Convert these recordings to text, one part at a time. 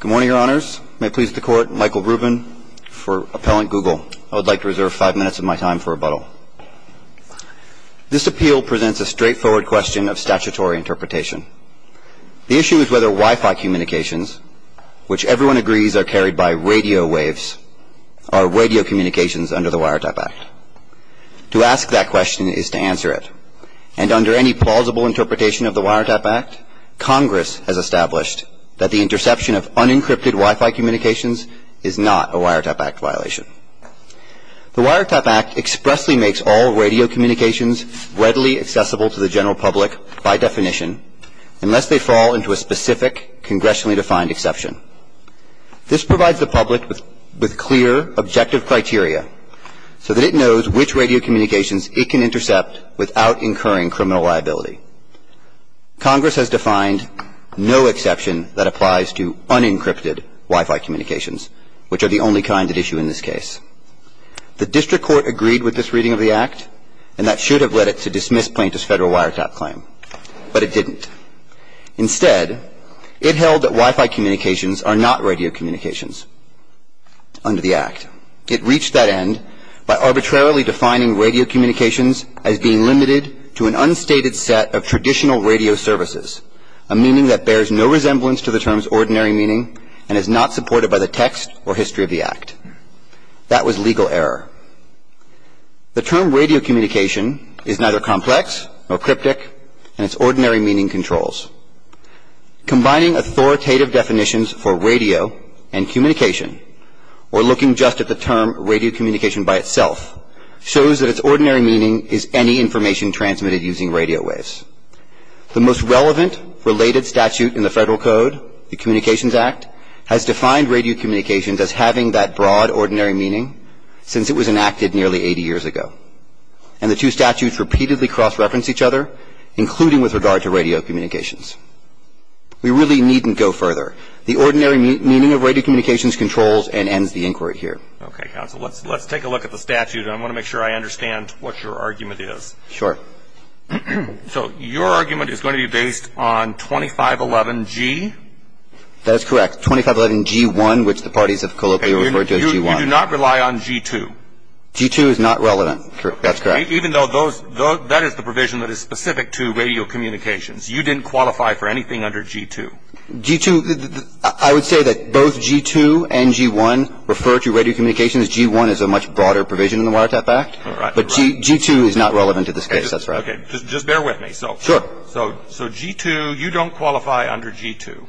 Good morning, Your Honours. May it please the Court, Michael Rubin for Appellant Google. I would like to reserve five minutes of my time for rebuttal. This appeal presents a straightforward question of statutory interpretation. The issue is whether Wi-Fi communications, which everyone agrees are carried by radio waves, are radio communications under the Wiretap Act. To ask that question is to answer it. And under any plausible interpretation of the Wiretap Act, Congress has established that the interception of unencrypted Wi-Fi communications is not a Wiretap Act violation. The Wiretap Act expressly makes all radio communications readily accessible to the general public by definition unless they fall into a specific congressionally defined exception. This provides the public with clear, objective criteria so that it knows which radio communications it can intercept without incurring criminal liability. Congress has defined no exception that applies to unencrypted Wi-Fi communications, which are the only kind at issue in this case. The District Court agreed with this reading of the Act, and that should have led it to dismiss plaintiff's federal Wiretap claim. But it didn't. Instead, it held that Wi-Fi communications are not radio communications under the Act. It reached that end by arbitrarily defining radio communications as being limited to an unstated set of traditional radio services, a meaning that bears no resemblance to the term's ordinary meaning and is not supported by the text or history of the Act. That was legal error. The term radio communication is neither complex nor cryptic, and its ordinary meaning controls. Combining authoritative definitions for radio and communication or looking just at the term radio communication by itself shows that its ordinary meaning is any information transmitted using radio waves. The most relevant related statute in the Federal Code, the Communications Act, has defined radio communications as having that broad ordinary meaning since it was enacted nearly 80 years ago. And the two statutes repeatedly cross-reference each other, including with regard to radio communications. We really needn't go further. The ordinary meaning of radio communications controls and ends the inquiry here. Okay, counsel. Let's take a look at the statute, and I want to make sure I understand what your argument is. Sure. So your argument is going to be based on 2511G? That is correct. 2511G1, which the parties have colloquially referred to as G1. You do not rely on G2? G2 is not relevant. That's correct. Even though that is the provision that is specific to radio communications. You didn't qualify for anything under G2. G2, I would say that both G2 and G1 refer to radio communications. G1 is a much broader provision in the Watertap Act. All right. But G2 is not relevant to this case. That's right. Okay. Just bear with me. Sure. So G2, you don't qualify under G2?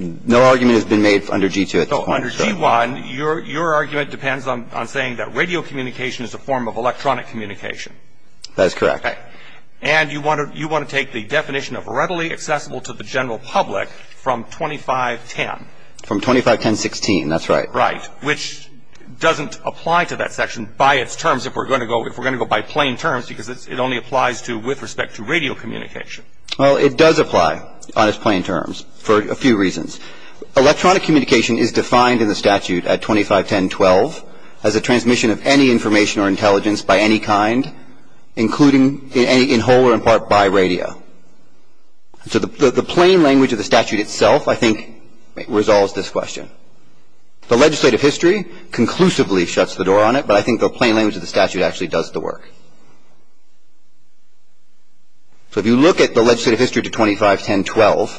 No argument has been made under G2 at this point. Under G1, your argument depends on saying that radio communication is a form of electronic communication. That is correct. Okay. And you want to take the definition of readily accessible to the general public from 2510. From 2510.16. That's right. Right. Which doesn't apply to that section by its terms if we're going to go by plain terms because it only applies with respect to radio communication. Well, it does apply on its plain terms for a few reasons. Electronic communication is defined in the statute at 2510.12 as a transmission of any information or intelligence by any kind, including in whole or in part by radio. So the plain language of the statute itself, I think, resolves this question. The legislative history conclusively shuts the door on it, but I think the plain language of the statute actually does the work. So if you look at the legislative history to 2510.12,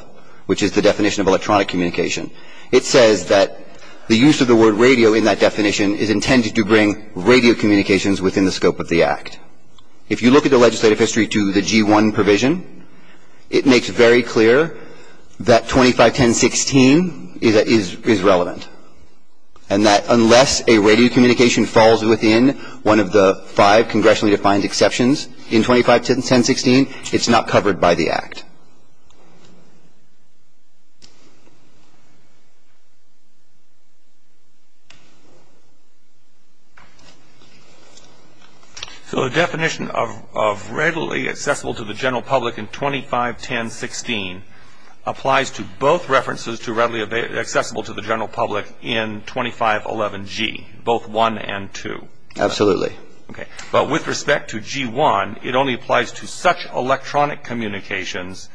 which is the definition of electronic communication, it says that the use of the word radio in that definition is intended to bring radio communications within the scope of the Act. If you look at the legislative history to the G-1 provision, it makes very clear that 2510.16 is relevant and that unless a radio communication falls within one of the five congressionally defined exceptions in 2510.16, it's not covered by the Act. So the definition of readily accessible to the general public in 2510.16 applies to both references to readily accessible to the general public in 2511G, both 1 and 2. Absolutely. Okay. But with respect to G-1, it only applies to such electronic communications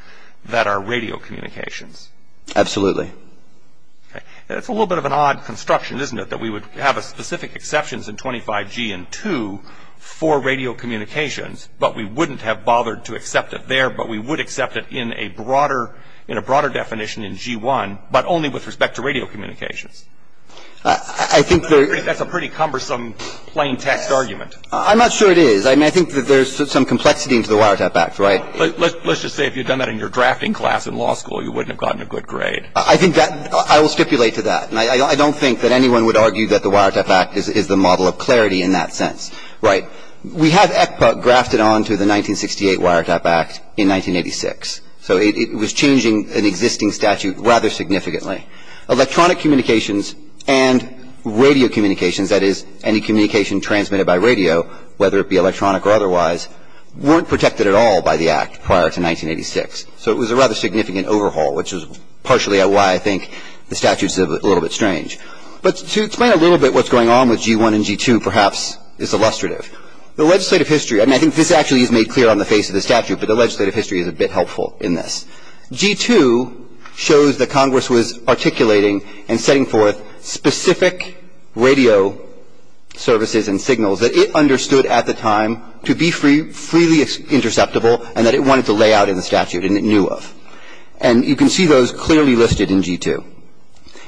that are radio communications. Absolutely. Okay. It's a little bit of an odd construction, isn't it, that we would have specific exceptions in 25G and 2 for radio communications, but we wouldn't have bothered to accept it there, but we would accept it in a broader definition in G-1, but only with respect to radio communications. That's a pretty cumbersome plain text argument. I'm not sure it is. I mean, I think that there's some complexity into the Wiretap Act, right? Let's just say if you'd done that in your drafting class in law school, you wouldn't have gotten a good grade. I think that – I will stipulate to that. And I don't think that anyone would argue that the Wiretap Act is the model of clarity in that sense. Right. We had ECPA grafted onto the 1968 Wiretap Act in 1986. So it was changing an existing statute rather significantly. Electronic communications and radio communications, that is, any communication transmitted by radio, whether it be electronic or otherwise, weren't protected at all by the Act prior to 1986. So it was a rather significant overhaul, which is partially why I think the statute is a little bit strange. But to explain a little bit what's going on with G-1 and G-2 perhaps is illustrative. The legislative history – and I think this actually is made clear on the face of the statute, but the legislative history is a bit helpful in this. G-2 shows that Congress was articulating and setting forth specific radio services and signals that it understood at the time to be freely interceptable and that it wanted to lay out in the statute and it knew of. And you can see those clearly listed in G-2.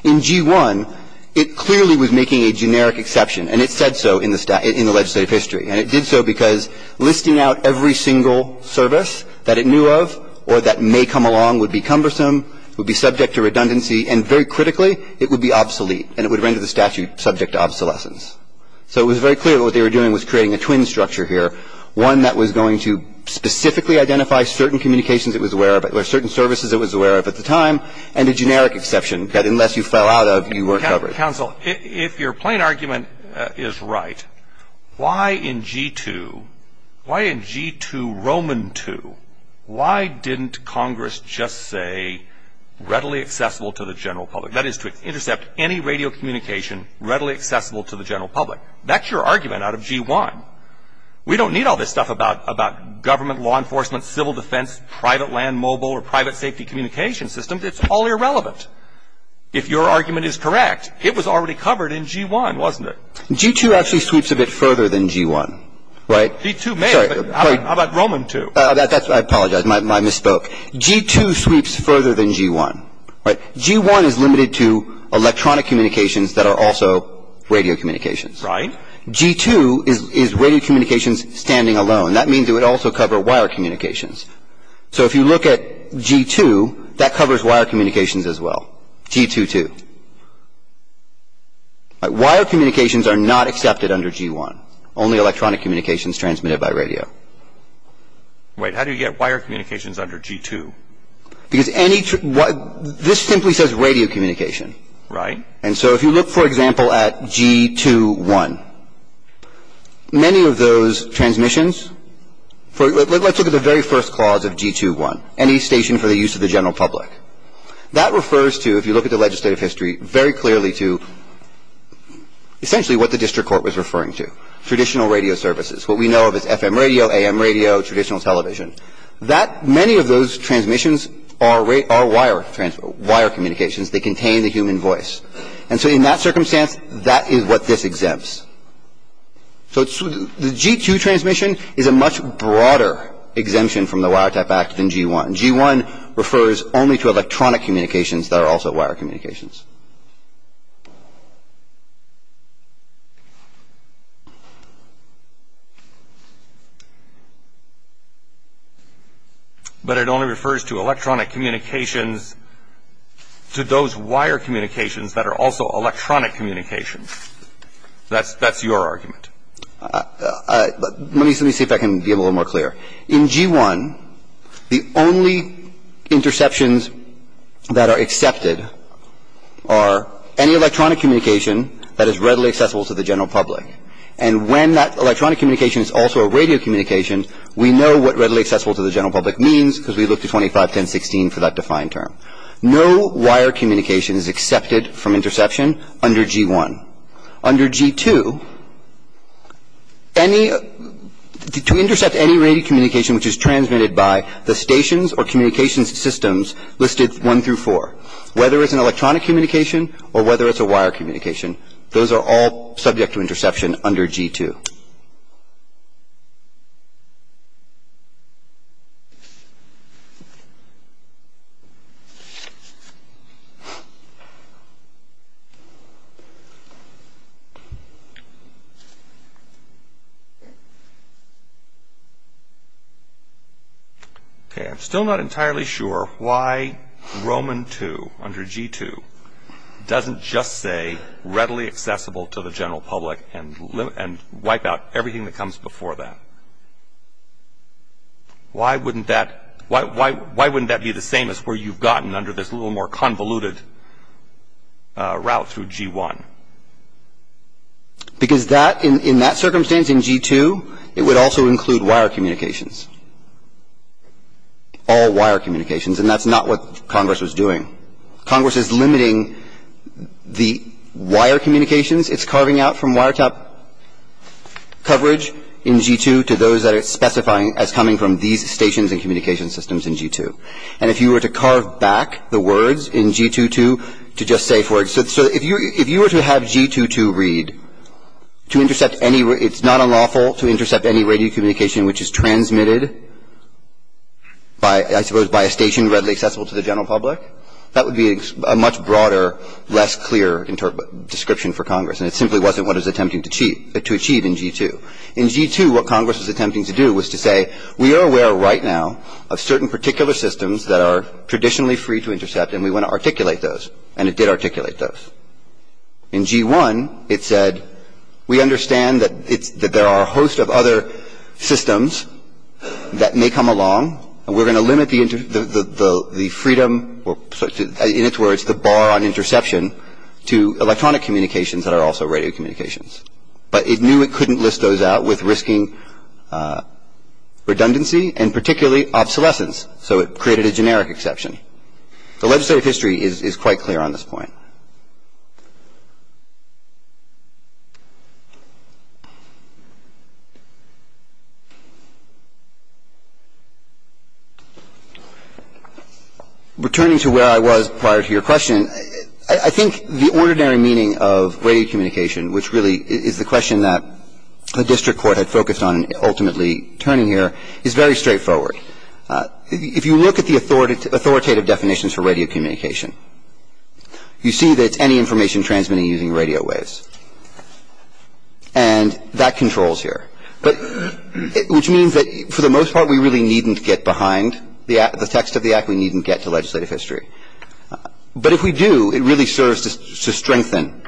In G-1, it clearly was making a generic exception. And it said so in the legislative history. And it did so because listing out every single service that it knew of or that may come along would be cumbersome, would be subject to redundancy, and very critically, it would be obsolete and it would render the statute subject to obsolescence. So it was very clear that what they were doing was creating a twin structure here, one that was going to specifically identify certain communications it was aware of or certain services it was aware of at the time and a generic exception that unless you fell out of, you weren't covered. Mr. Counsel, if your plain argument is right, why in G-2, why in G-2 Roman 2, why didn't Congress just say readily accessible to the general public? That is to intercept any radio communication readily accessible to the general public. That's your argument out of G-1. We don't need all this stuff about government, law enforcement, civil defense, private land mobile or private safety communication systems. It's all irrelevant. If your argument is correct, it was already covered in G-1, wasn't it? G-2 actually sweeps a bit further than G-1, right? G-2 may, but how about Roman 2? I apologize. I misspoke. G-2 sweeps further than G-1. G-1 is limited to electronic communications that are also radio communications. Right. G-2 is radio communications standing alone. That means it would also cover wire communications. So if you look at G-2, that covers wire communications as well. G-2 too. Wire communications are not accepted under G-1. Only electronic communications transmitted by radio. Wait. How do you get wire communications under G-2? Because any – this simply says radio communication. Right. And so if you look, for example, at G-2-1, many of those transmissions for – let's look at the very first clause of G-2-1, any station for the use of the general public. That refers to, if you look at the legislative history, very clearly to essentially what the district court was referring to, traditional radio services. What we know of is FM radio, AM radio, traditional television. That – many of those transmissions are wire communications. They contain the human voice. And so in that circumstance, that is what this exempts. So the G-2 transmission is a much broader exemption from the Wire Type Act than G-1. G-1 refers only to electronic communications that are also wire communications. But it only refers to electronic communications, to those wire communications that are also electronic communications. That's your argument. Let me see if I can be a little more clear. In G-1, the only interceptions that are accepted are any electronic communication that is readily accessible to the general public. And when that electronic communication is also a radio communication, we know what readily accessible to the general public means because we looked at 25, 10, 16 for that defined term. No wire communication is accepted from interception under G-1. Under G-2, any – to intercept any radio communication which is transmitted by the stations or communications systems listed 1 through 4, whether it's an electronic communication or whether it's a wire communication, those are all subject to interception under G-2. Okay. I'm still not entirely sure why Roman-2 under G-2 doesn't just say readily accessible to the general public and wipe out everything that comes before that. Why wouldn't that – why wouldn't that be the same as where you've gotten under this little more convoluted route through G-1? Because that – in that circumstance in G-2, it would also include wire communications, all wire communications, and that's not what Congress was doing. Congress is limiting the wire communications. It's carving out from wiretap coverage in G-2 to those that it's specifying as coming from these stations and communication systems in G-2. And if you were to carve back the words in G-2-2 to just say for – so if you were to have G-2-2 read to intercept any – it's not unlawful to intercept any radio communication which is transmitted by – I suppose by a station readily accessible to the general public, that would be a much broader, less clear description for Congress, and it simply wasn't what it was attempting to achieve in G-2. In G-2, what Congress was attempting to do was to say, we are aware right now of certain particular systems that are traditionally free to intercept, and we want to articulate those, and it did articulate those. In G-1, it said, we understand that it's – that there are a host of other systems that may come along, and we're going to limit the freedom – in its words, the bar on interception to electronic communications that are also radio communications. But it knew it couldn't list those out with risking redundancy, and particularly obsolescence, so it created a generic exception. The legislative history is quite clear on this point. Returning to where I was prior to your question, I think the ordinary meaning of radio communication, which really is the question that the district court had focused on ultimately turning here, is very straightforward. If you look at the authoritative definitions for radio communication, you see that the definition of radio communication, you see that it's any information transmitted using radio waves. And that controls here, which means that for the most part, we really needn't get behind the text of the Act. We needn't get to legislative history. But if we do, it really serves to strengthen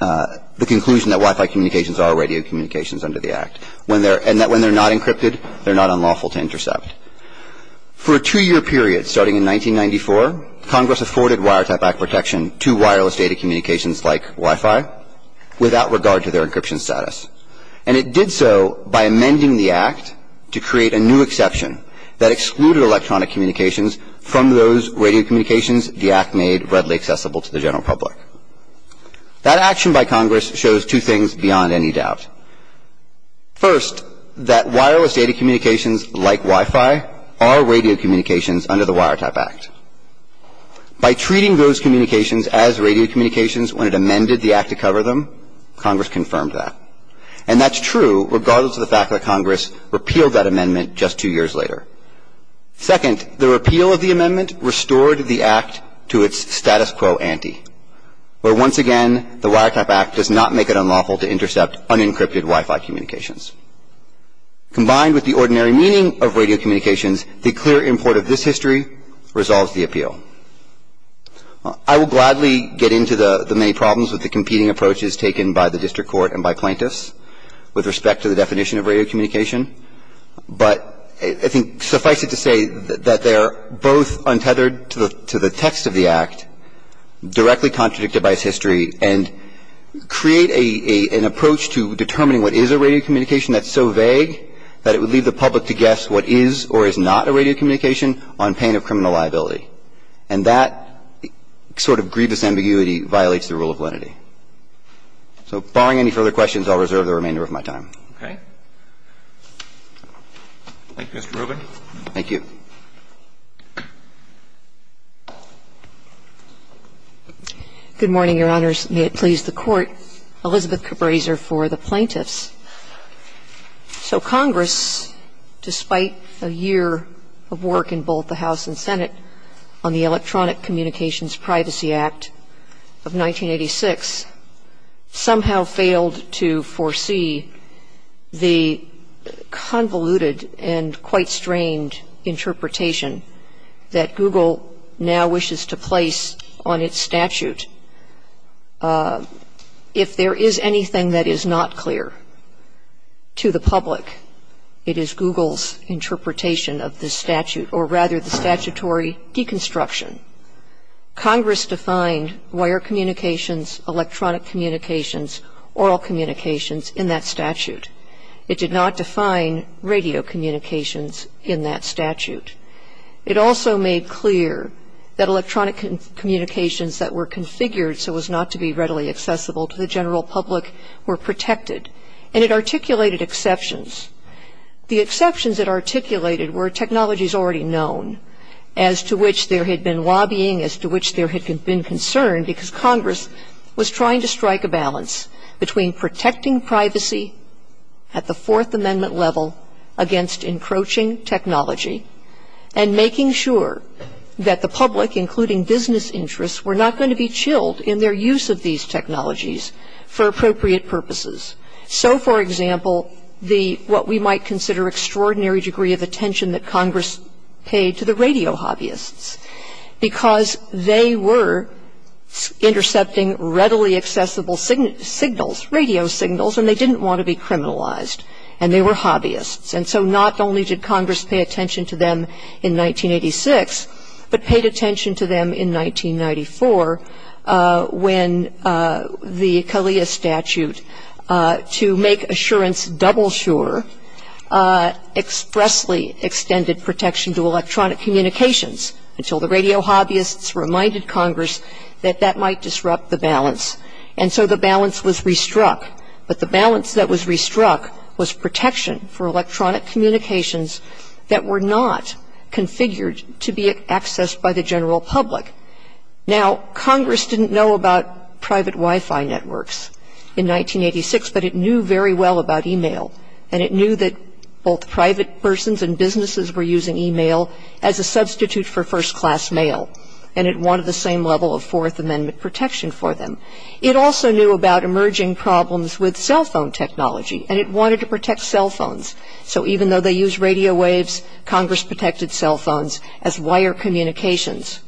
the conclusion that Wi-Fi communications are radio communications under the Act, and that when they're not encrypted, they're not unlawful to intercept. For a two-year period starting in 1994, Congress afforded Wiretap Act protection to wireless data communications like Wi-Fi without regard to their encryption status. And it did so by amending the Act to create a new exception that excluded electronic communications from those radio communications the Act made readily accessible to the general public. That action by Congress shows two things beyond any doubt. First, that wireless data communications like Wi-Fi are radio communications under the Wiretap Act. By treating those communications as radio communications when it amended the Act to cover them, Congress confirmed that. And that's true regardless of the fact that Congress repealed that amendment just two years later. Second, the repeal of the amendment restored the Act to its status quo ante, where once again, the Wiretap Act does not make it unlawful to intercept unencrypted Wi-Fi communications. Combined with the ordinary meaning of radio communications, the clear import of this history resolves the appeal. I will gladly get into the many problems with the competing approaches taken by the district court and by plaintiffs with respect to the definition of radio communication, but I think suffice it to say that they're both untethered to the text of the Act, directly contradicted by its history, and create an approach to determining what is a radio communication that's so vague that it would leave the public to guess what is or is not a radio communication on pain of criminal liability. And that sort of grievous ambiguity violates the rule of lenity. So barring any further questions, I'll reserve the remainder of my time. Roberts. Thank you, Mr. Rubin. Thank you. Good morning, Your Honors. May it please the Court. Elizabeth Cabraser for the plaintiffs. So Congress, despite a year of work in both the House and Senate on the Electronic Communications Privacy Act of 1986, somehow failed to foresee the convoluted and quite strained interpretation that Google now wishes to place on its statute. If there is anything that is not clear to the public, it is Google's interpretation of the statute, or rather the statutory deconstruction. Congress defined wire communications, electronic communications, oral communications in that statute. It did not define radio communications in that statute. It also made clear that electronic communications that were configured so as not to be readily accessible to the general public were protected, and it articulated exceptions. The exceptions it articulated were technologies already known, as to which there had been lobbying, as to which there had been concern, because Congress was trying to strike a balance between protecting privacy at the Fourth Amendment level against encroaching technology, and making sure that the public, including business interests, were not going to be chilled in their use of these technologies for appropriate purposes. So, for example, the what we might consider extraordinary degree of attention that Congress paid to the radio hobbyists, because they were intercepting readily accessible signals, radio signals, and they didn't want to be criminalized, and they were hobbyists. And so not only did Congress pay attention to them in 1986, but paid attention to them in 1994 when the CALEA statute, to make assurance double sure, expressly extended protection to electronic communications until the radio hobbyists reminded Congress that that might disrupt the balance. And so the balance was restruck. But the balance that was restruck was protection for electronic communications that were not configured to be accessed by the general public. Now, Congress didn't know about private Wi-Fi networks in 1986, but it knew very well about e-mail. And it knew that both private persons and businesses were using e-mail as a substitute for first-class mail, and it wanted the same level of Fourth Amendment protection for them. It also knew about emerging problems with cell phone technology, and it wanted to protect cell phones. So even though they used radio waves, Congress protected cell phones as wire communications.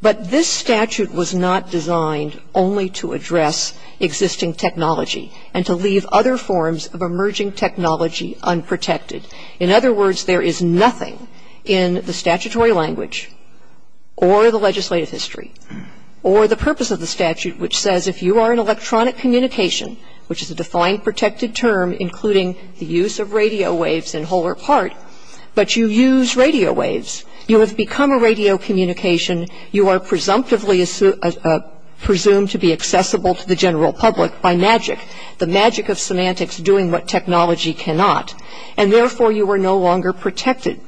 But this statute was not designed only to address existing technology and to leave other forms of emerging technology unprotected. In other words, there is nothing in the statutory language or the legislative history or the purpose of the statute which says if you are in electronic communication, which is a defined protected term, including the use of radio waves in whole or part, but you use radio waves, you have become a radio communication. You are presumptively presumed to be accessible to the general public by magic, the magic of semantics doing what technology cannot, and therefore you are no longer protected.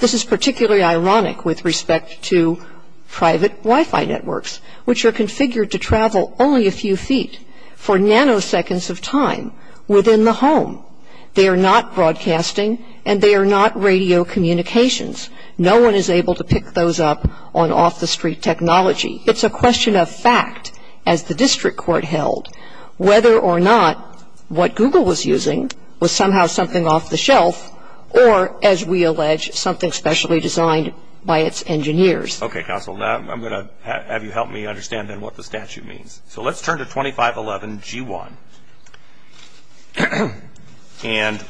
This is particularly ironic with respect to private Wi-Fi networks, which are configured to travel only a few feet for nanoseconds of time within the home. They are not broadcasting, and they are not radio communications. No one is able to pick those up on off-the-street technology. It's a question of fact, as the district court held, whether or not what Google was using was somehow something off the shelf or, as we allege, something specially designed by its engineers. Okay, counsel. I'm going to have you help me understand then what the statute means. So let's turn to 2511G1. And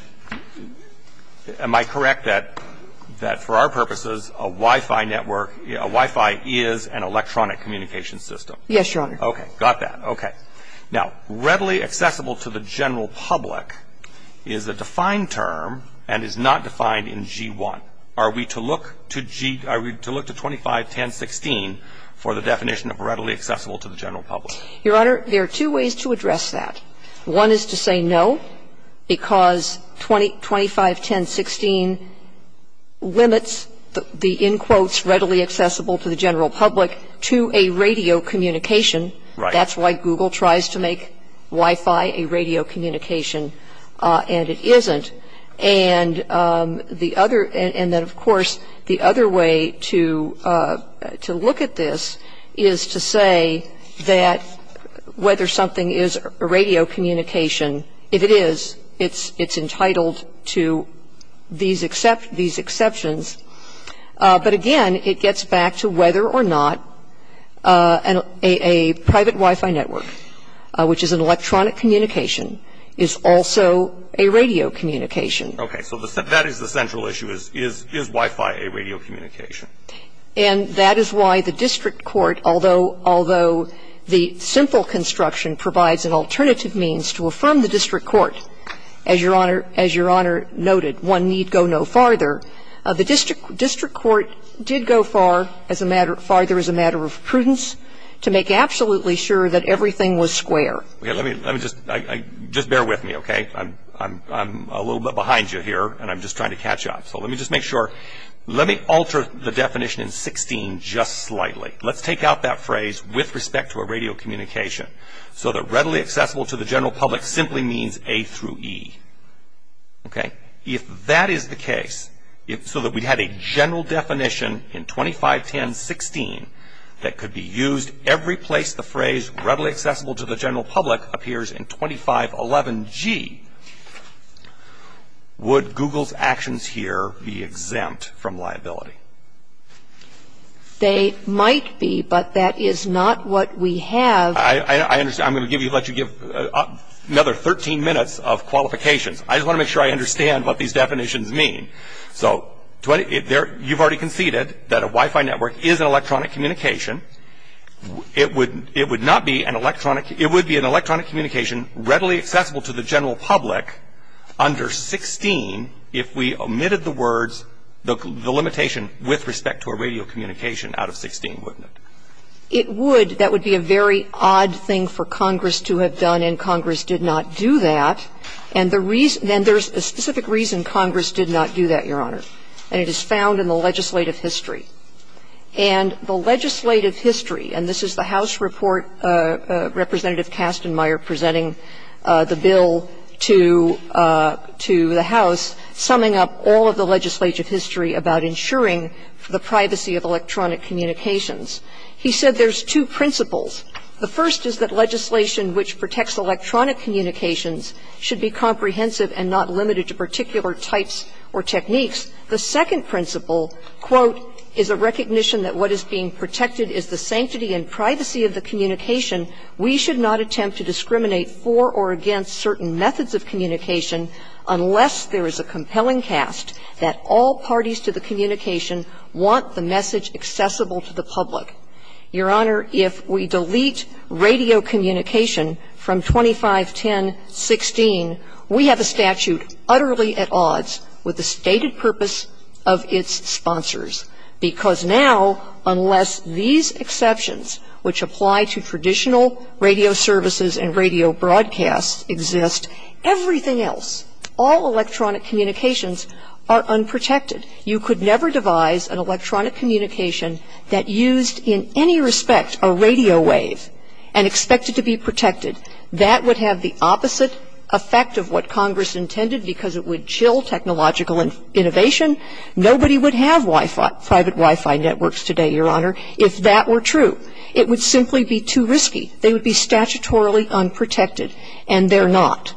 am I correct that for our purposes a Wi-Fi network, a Wi-Fi is an electronic communication system? Yes, Your Honor. Okay, got that. Okay. Now, readily accessible to the general public is a defined term and is not defined in G1. So are we to look to G, are we to look to 251016 for the definition of readily accessible to the general public? Your Honor, there are two ways to address that. One is to say no, because 251016 limits the, in quotes, readily accessible to the general public to a radio communication. Right. That's why Google tries to make Wi-Fi a radio communication, and it isn't. And then, of course, the other way to look at this is to say that whether something is a radio communication, if it is, it's entitled to these exceptions. But, again, it gets back to whether or not a private Wi-Fi network, which is an electronic communication, is also a radio communication. Okay. So that is the central issue. Is Wi-Fi a radio communication? And that is why the district court, although the simple construction provides an alternative means to affirm the district court, as Your Honor noted, one need go no farther. The district court did go farther as a matter of prudence to make absolutely sure that everything was square. Let me just, just bear with me, okay. I'm a little bit behind you here, and I'm just trying to catch up. So let me just make sure. Let me alter the definition in 16 just slightly. Let's take out that phrase, with respect to a radio communication, so that readily accessible to the general public simply means A through E. Okay. If that is the case, so that we had a general definition in 251016 that could be used every place the phrase readily accessible to the general public appears in 2511G, would Google's actions here be exempt from liability? They might be, but that is not what we have. I understand. I'm going to give you, let you give another 13 minutes of qualifications. I just want to make sure I understand what these definitions mean. So you've already conceded that a Wi-Fi network is an electronic communication. It would not be an electronic, it would be an electronic communication readily accessible to the general public under 16 if we omitted the words, the limitation with respect to a radio communication out of 16, wouldn't it? It would. That would be a very odd thing for Congress to have done, and Congress did not do that. And the reason, and there's a specific reason Congress did not do that, Your Honor, and it is found in the legislative history. And the legislative history, and this is the House report, Representative Kastenmeier presenting the bill to the House, summing up all of the legislative history about ensuring the privacy of electronic communications. He said there's two principles. The first is that legislation which protects electronic communications should be comprehensive and not limited to particular types or techniques. The second principle, quote, is a recognition that what is being protected is the sanctity and privacy of the communication. We should not attempt to discriminate for or against certain methods of communication unless there is a compelling cast that all parties to the communication want the message accessible to the public. Your Honor, if we delete radio communication from 2510.16, we have a statute utterly at odds with the stated purpose of its sponsors, because now, unless these exceptions which apply to traditional radio services and radio broadcasts exist, everything else, all electronic communications, are unprotected. And you could never devise an electronic communication that used in any respect a radio wave and expect it to be protected. That would have the opposite effect of what Congress intended because it would chill technological innovation. Nobody would have Wi-Fi, private Wi-Fi networks today, Your Honor, if that were true. It would simply be too risky. They would be statutorily unprotected, and they're not.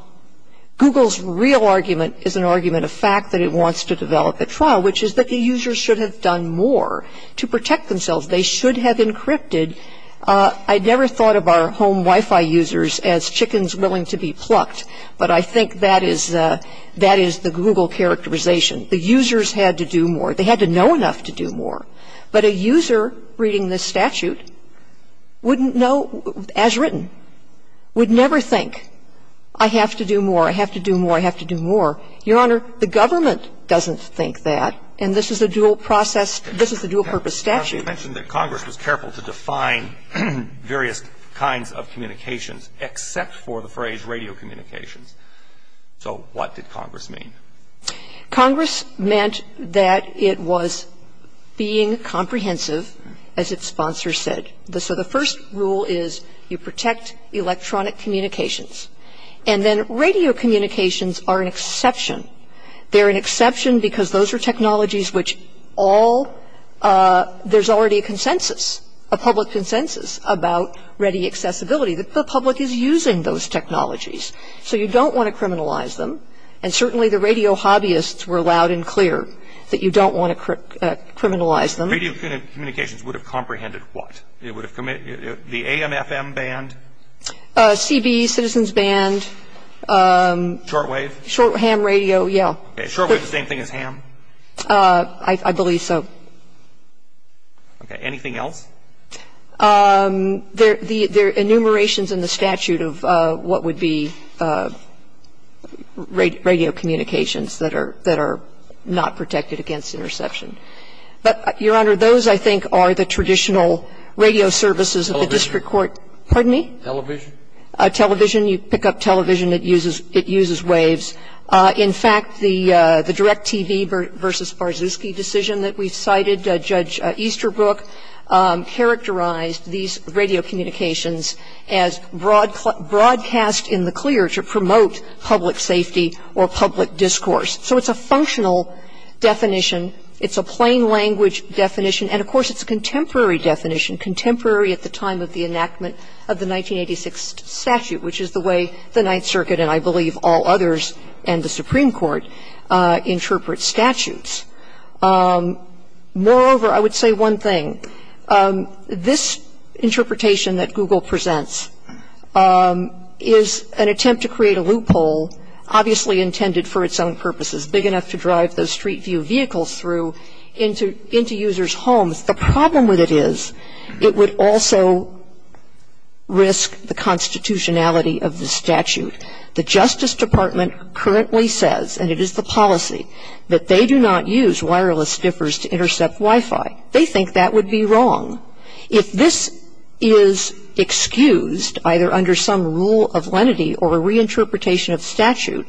Google's real argument is an argument of fact that it wants to develop a trial, which is that the users should have done more to protect themselves. They should have encrypted. I never thought of our home Wi-Fi users as chickens willing to be plucked, but I think that is the Google characterization. The users had to do more. They had to know enough to do more. But a user reading this statute wouldn't know, as written, would never think, I have to do more. I have to do more. I have to do more. Your Honor, the government doesn't think that, and this is a dual process. This is a dual purpose statute. Now, you mentioned that Congress was careful to define various kinds of communications except for the phrase radio communications. So what did Congress mean? Congress meant that it was being comprehensive, as its sponsor said. So the first rule is you protect electronic communications. And then radio communications are an exception. They're an exception because those are technologies which all, there's already a consensus, a public consensus about ready accessibility. The public is using those technologies. So you don't want to criminalize them. And certainly the radio hobbyists were loud and clear that you don't want to criminalize them. Radio communications would have comprehended what? It would have, the AMFM band? CB, Citizens Band. Shortwave? Ham radio, yeah. Shortwave, the same thing as ham? I believe so. Okay. Anything else? There are enumerations in the statute of what would be radio communications that are not protected against interception. There is a broad definition of radio communications. But Your Honor, those, I think, are the traditional radio services of the district court. Television. Pardon me? Television. Television. You pick up television. It uses waves. In fact, the direct TV versus Sparszyski decision that we cited, Judge Easterbrook characterized these radio communications as broadcast in the clear to promote public safety or public discourse. So it's a functional definition. It's a plain language definition. And, of course, it's a contemporary definition, contemporary at the time of the enactment of the 1986 statute, which is the way the Ninth Circuit and I believe all others and the Supreme Court interpret statutes. Moreover, I would say one thing. This interpretation that Google presents is an attempt to create a loophole, obviously intended for its own purposes, big enough to drive those street view vehicles through into users' homes. The problem with it is it would also risk the constitutionality of the statute. The Justice Department currently says, and it is the policy, that they do not use wireless stiffers to intercept Wi-Fi. They think that would be wrong. If this is excused, either under some rule of lenity or a reinterpretation of statute,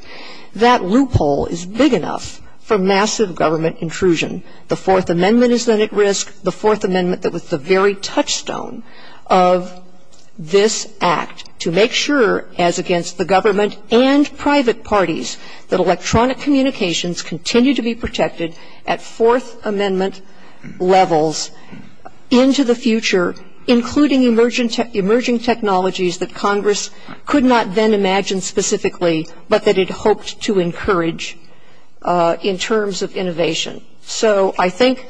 that loophole is big enough for massive government intrusion. The Fourth Amendment is then at risk, the Fourth Amendment that was the very touchstone of this Act, to make sure, as against the government and private parties, that electronic communications continue to be protected at Fourth Amendment levels into the future, including emerging technologies that Congress could not then imagine specifically, but that it hoped to encourage in terms of innovation. So I think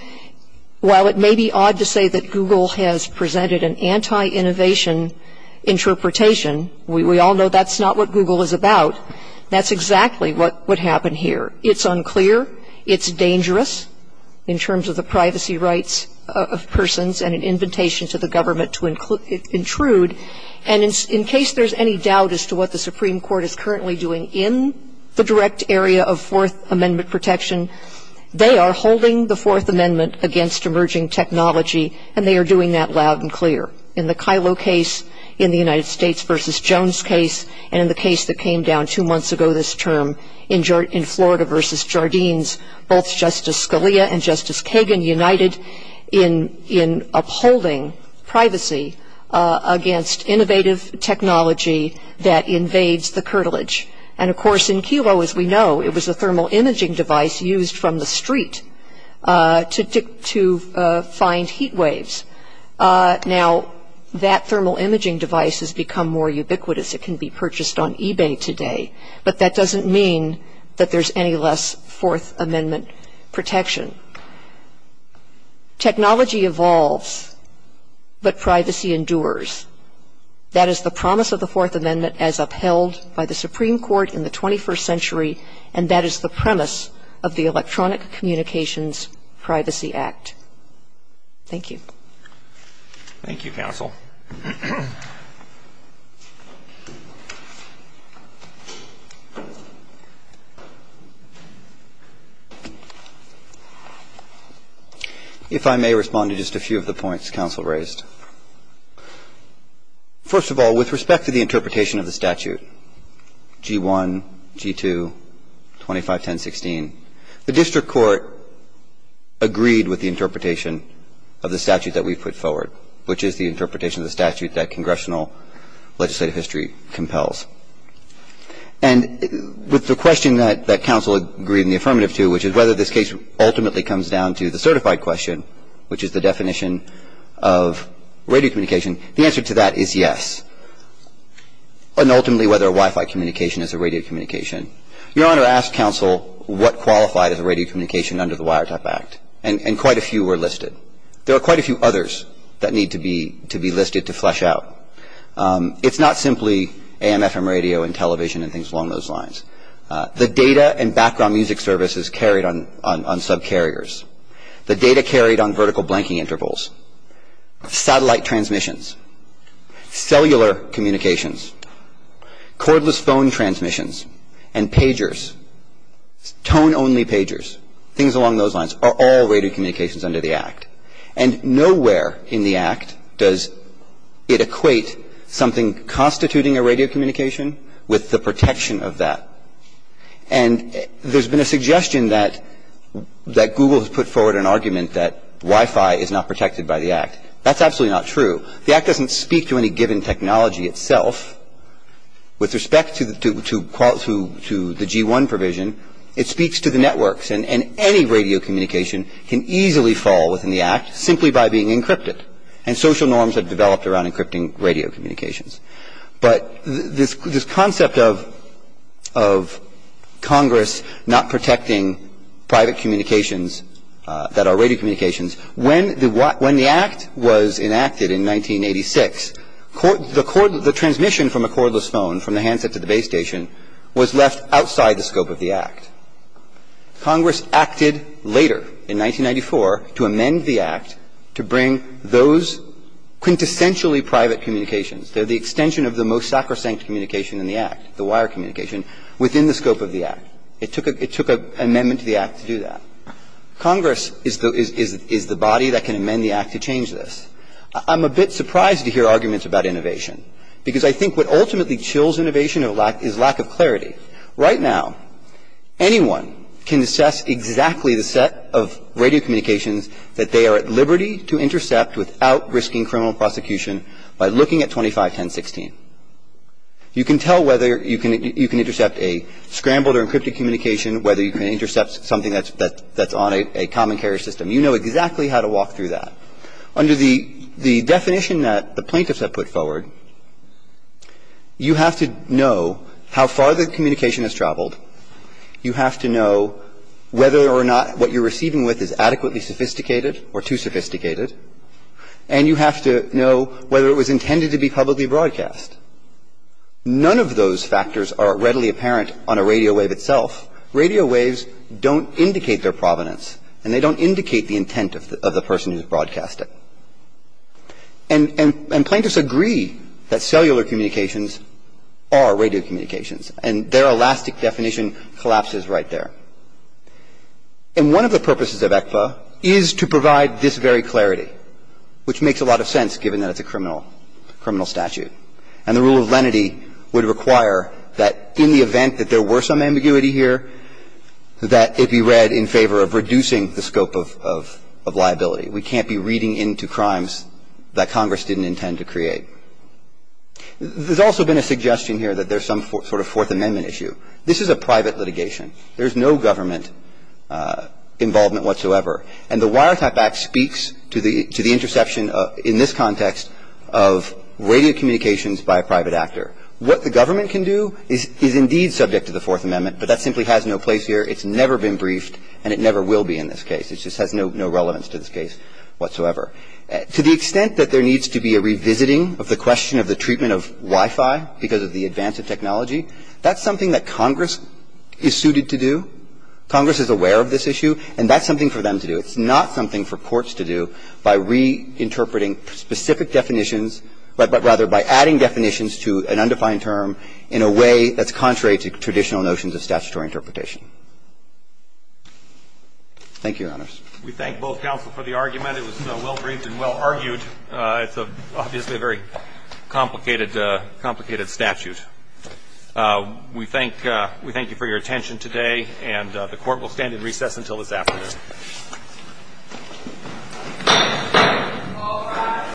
while it may be odd to say that Google has presented an anti-innovation interpretation, we all know that's not what Google is about, that's exactly what happened here. It's unclear. It's dangerous in terms of the privacy rights of persons and an invitation to the government to intrude. And in case there's any doubt as to what the Supreme Court is currently doing in the direct area of Fourth Amendment protection, they are holding the Fourth Amendment against emerging technology, and they are doing that loud and clear. In the Kyllo case, in the United States v. Jones case, and in the case that came down two months ago this term, in Florida v. Jardines, both Justice Scalia and Justice Kagan united in upholding privacy against innovative technology that invades the curtilage. And, of course, in Kyllo, as we know, it was a thermal imaging device used from the street to find heat waves. Now, that thermal imaging device has become more ubiquitous. It can be purchased on eBay today. But that doesn't mean that there's any less Fourth Amendment protection. Technology evolves, but privacy endures. That is the promise of the Fourth Amendment as upheld by the Supreme Court in the 21st century, and that is the premise of the Electronic Communications Privacy Act. Thank you. Thank you, counsel. If I may respond to just a few of the points counsel raised. First of all, with respect to the interpretation of the statute, G-1, G-2, 251016, the district court agreed with the interpretation of the statute that we've put forward, which is the interpretation of the statute that congressional legislative history compels. And with the question that counsel agreed in the affirmative to, which is whether this case ultimately comes down to the certified question, which is the definition of radio communication, the answer to that is yes, and ultimately whether Wi-Fi communication is a radio communication. Your Honor asked counsel what qualified as a radio communication under the Wiretap Act, and quite a few were listed. There are quite a few others that need to be listed to flesh out. It's not simply AM, FM radio and television and things along those lines. The data and background music services carried on subcarriers. The data carried on vertical blanking intervals. Satellite transmissions. Cellular communications. Cordless phone transmissions. And pagers. Tone-only pagers. Things along those lines are all radio communications under the Act. And nowhere in the Act does it equate something constituting a radio communication with the protection of that. And there's been a suggestion that Google has put forward an argument that Wi-Fi is not protected by the Act. That's absolutely not true. The Act doesn't speak to any given technology itself. With respect to the G-1 provision, it speaks to the networks. And any radio communication can easily fall within the Act simply by being encrypted. And social norms have developed around encrypting radio communications. But this concept of Congress not protecting private communications that are radio communications, when the Act was enacted in 1986, the transmission from a cordless phone from the handset to the base station was left outside the scope of the Act. Congress acted later in 1994 to amend the Act to bring those quintessentially private communications. They're the extension of the most sacrosanct communication in the Act, the wire communication, within the scope of the Act. It took an amendment to the Act to do that. Congress is the body that can amend the Act to change this. I'm a bit surprised to hear arguments about innovation, because I think what ultimately chills innovation is lack of clarity. Right now, anyone can assess exactly the set of radio communications that they are at liberty to intercept without risking criminal prosecution by looking at 251016. You can tell whether you can intercept a scrambled or encrypted communication, whether you can intercept something that's on a common carrier system. You know exactly how to walk through that. Under the definition that the plaintiffs have put forward, you have to know how far the communication has traveled. You have to know whether or not what you're receiving with is adequately sophisticated or too sophisticated. And you have to know whether it was intended to be publicly broadcast. None of those factors are readily apparent on a radio wave itself. Radio waves don't indicate their provenance, and they don't indicate the intent of the person who has broadcast it. And plaintiffs agree that cellular communications are radio communications, and their elastic definition collapses right there. And one of the purposes of ECPA is to provide this very clarity, which makes a lot of sense, given that it's a criminal statute. And the rule of lenity would require that in the event that there were some ambiguity here, that it be read in favor of reducing the scope of liability. We can't be reading into crimes that Congress didn't intend to create. There's also been a suggestion here that there's some sort of Fourth Amendment issue. This is a private litigation. There's no government involvement whatsoever. And the Wiretap Act speaks to the interception in this context of radio communications by a private actor. What the government can do is indeed subject to the Fourth Amendment, but that simply has no place here. It's never been briefed, and it never will be in this case. It just has no relevance to this case whatsoever. To the extent that there needs to be a revisiting of the question of the treatment of Wi-Fi because of the advance of technology, that's something that Congress is suited to do. Congress is aware of this issue, and that's something for them to do. It's not something for courts to do by reinterpreting specific definitions, but rather by adding definitions to an undefined term in a way that's contrary to traditional notions of statutory interpretation. Thank you, Your Honors. We thank both counsel for the argument. It was well-briefed and well-argued. It's obviously a very complicated statute. We thank you for your attention today, and the court will stand in recess until this afternoon.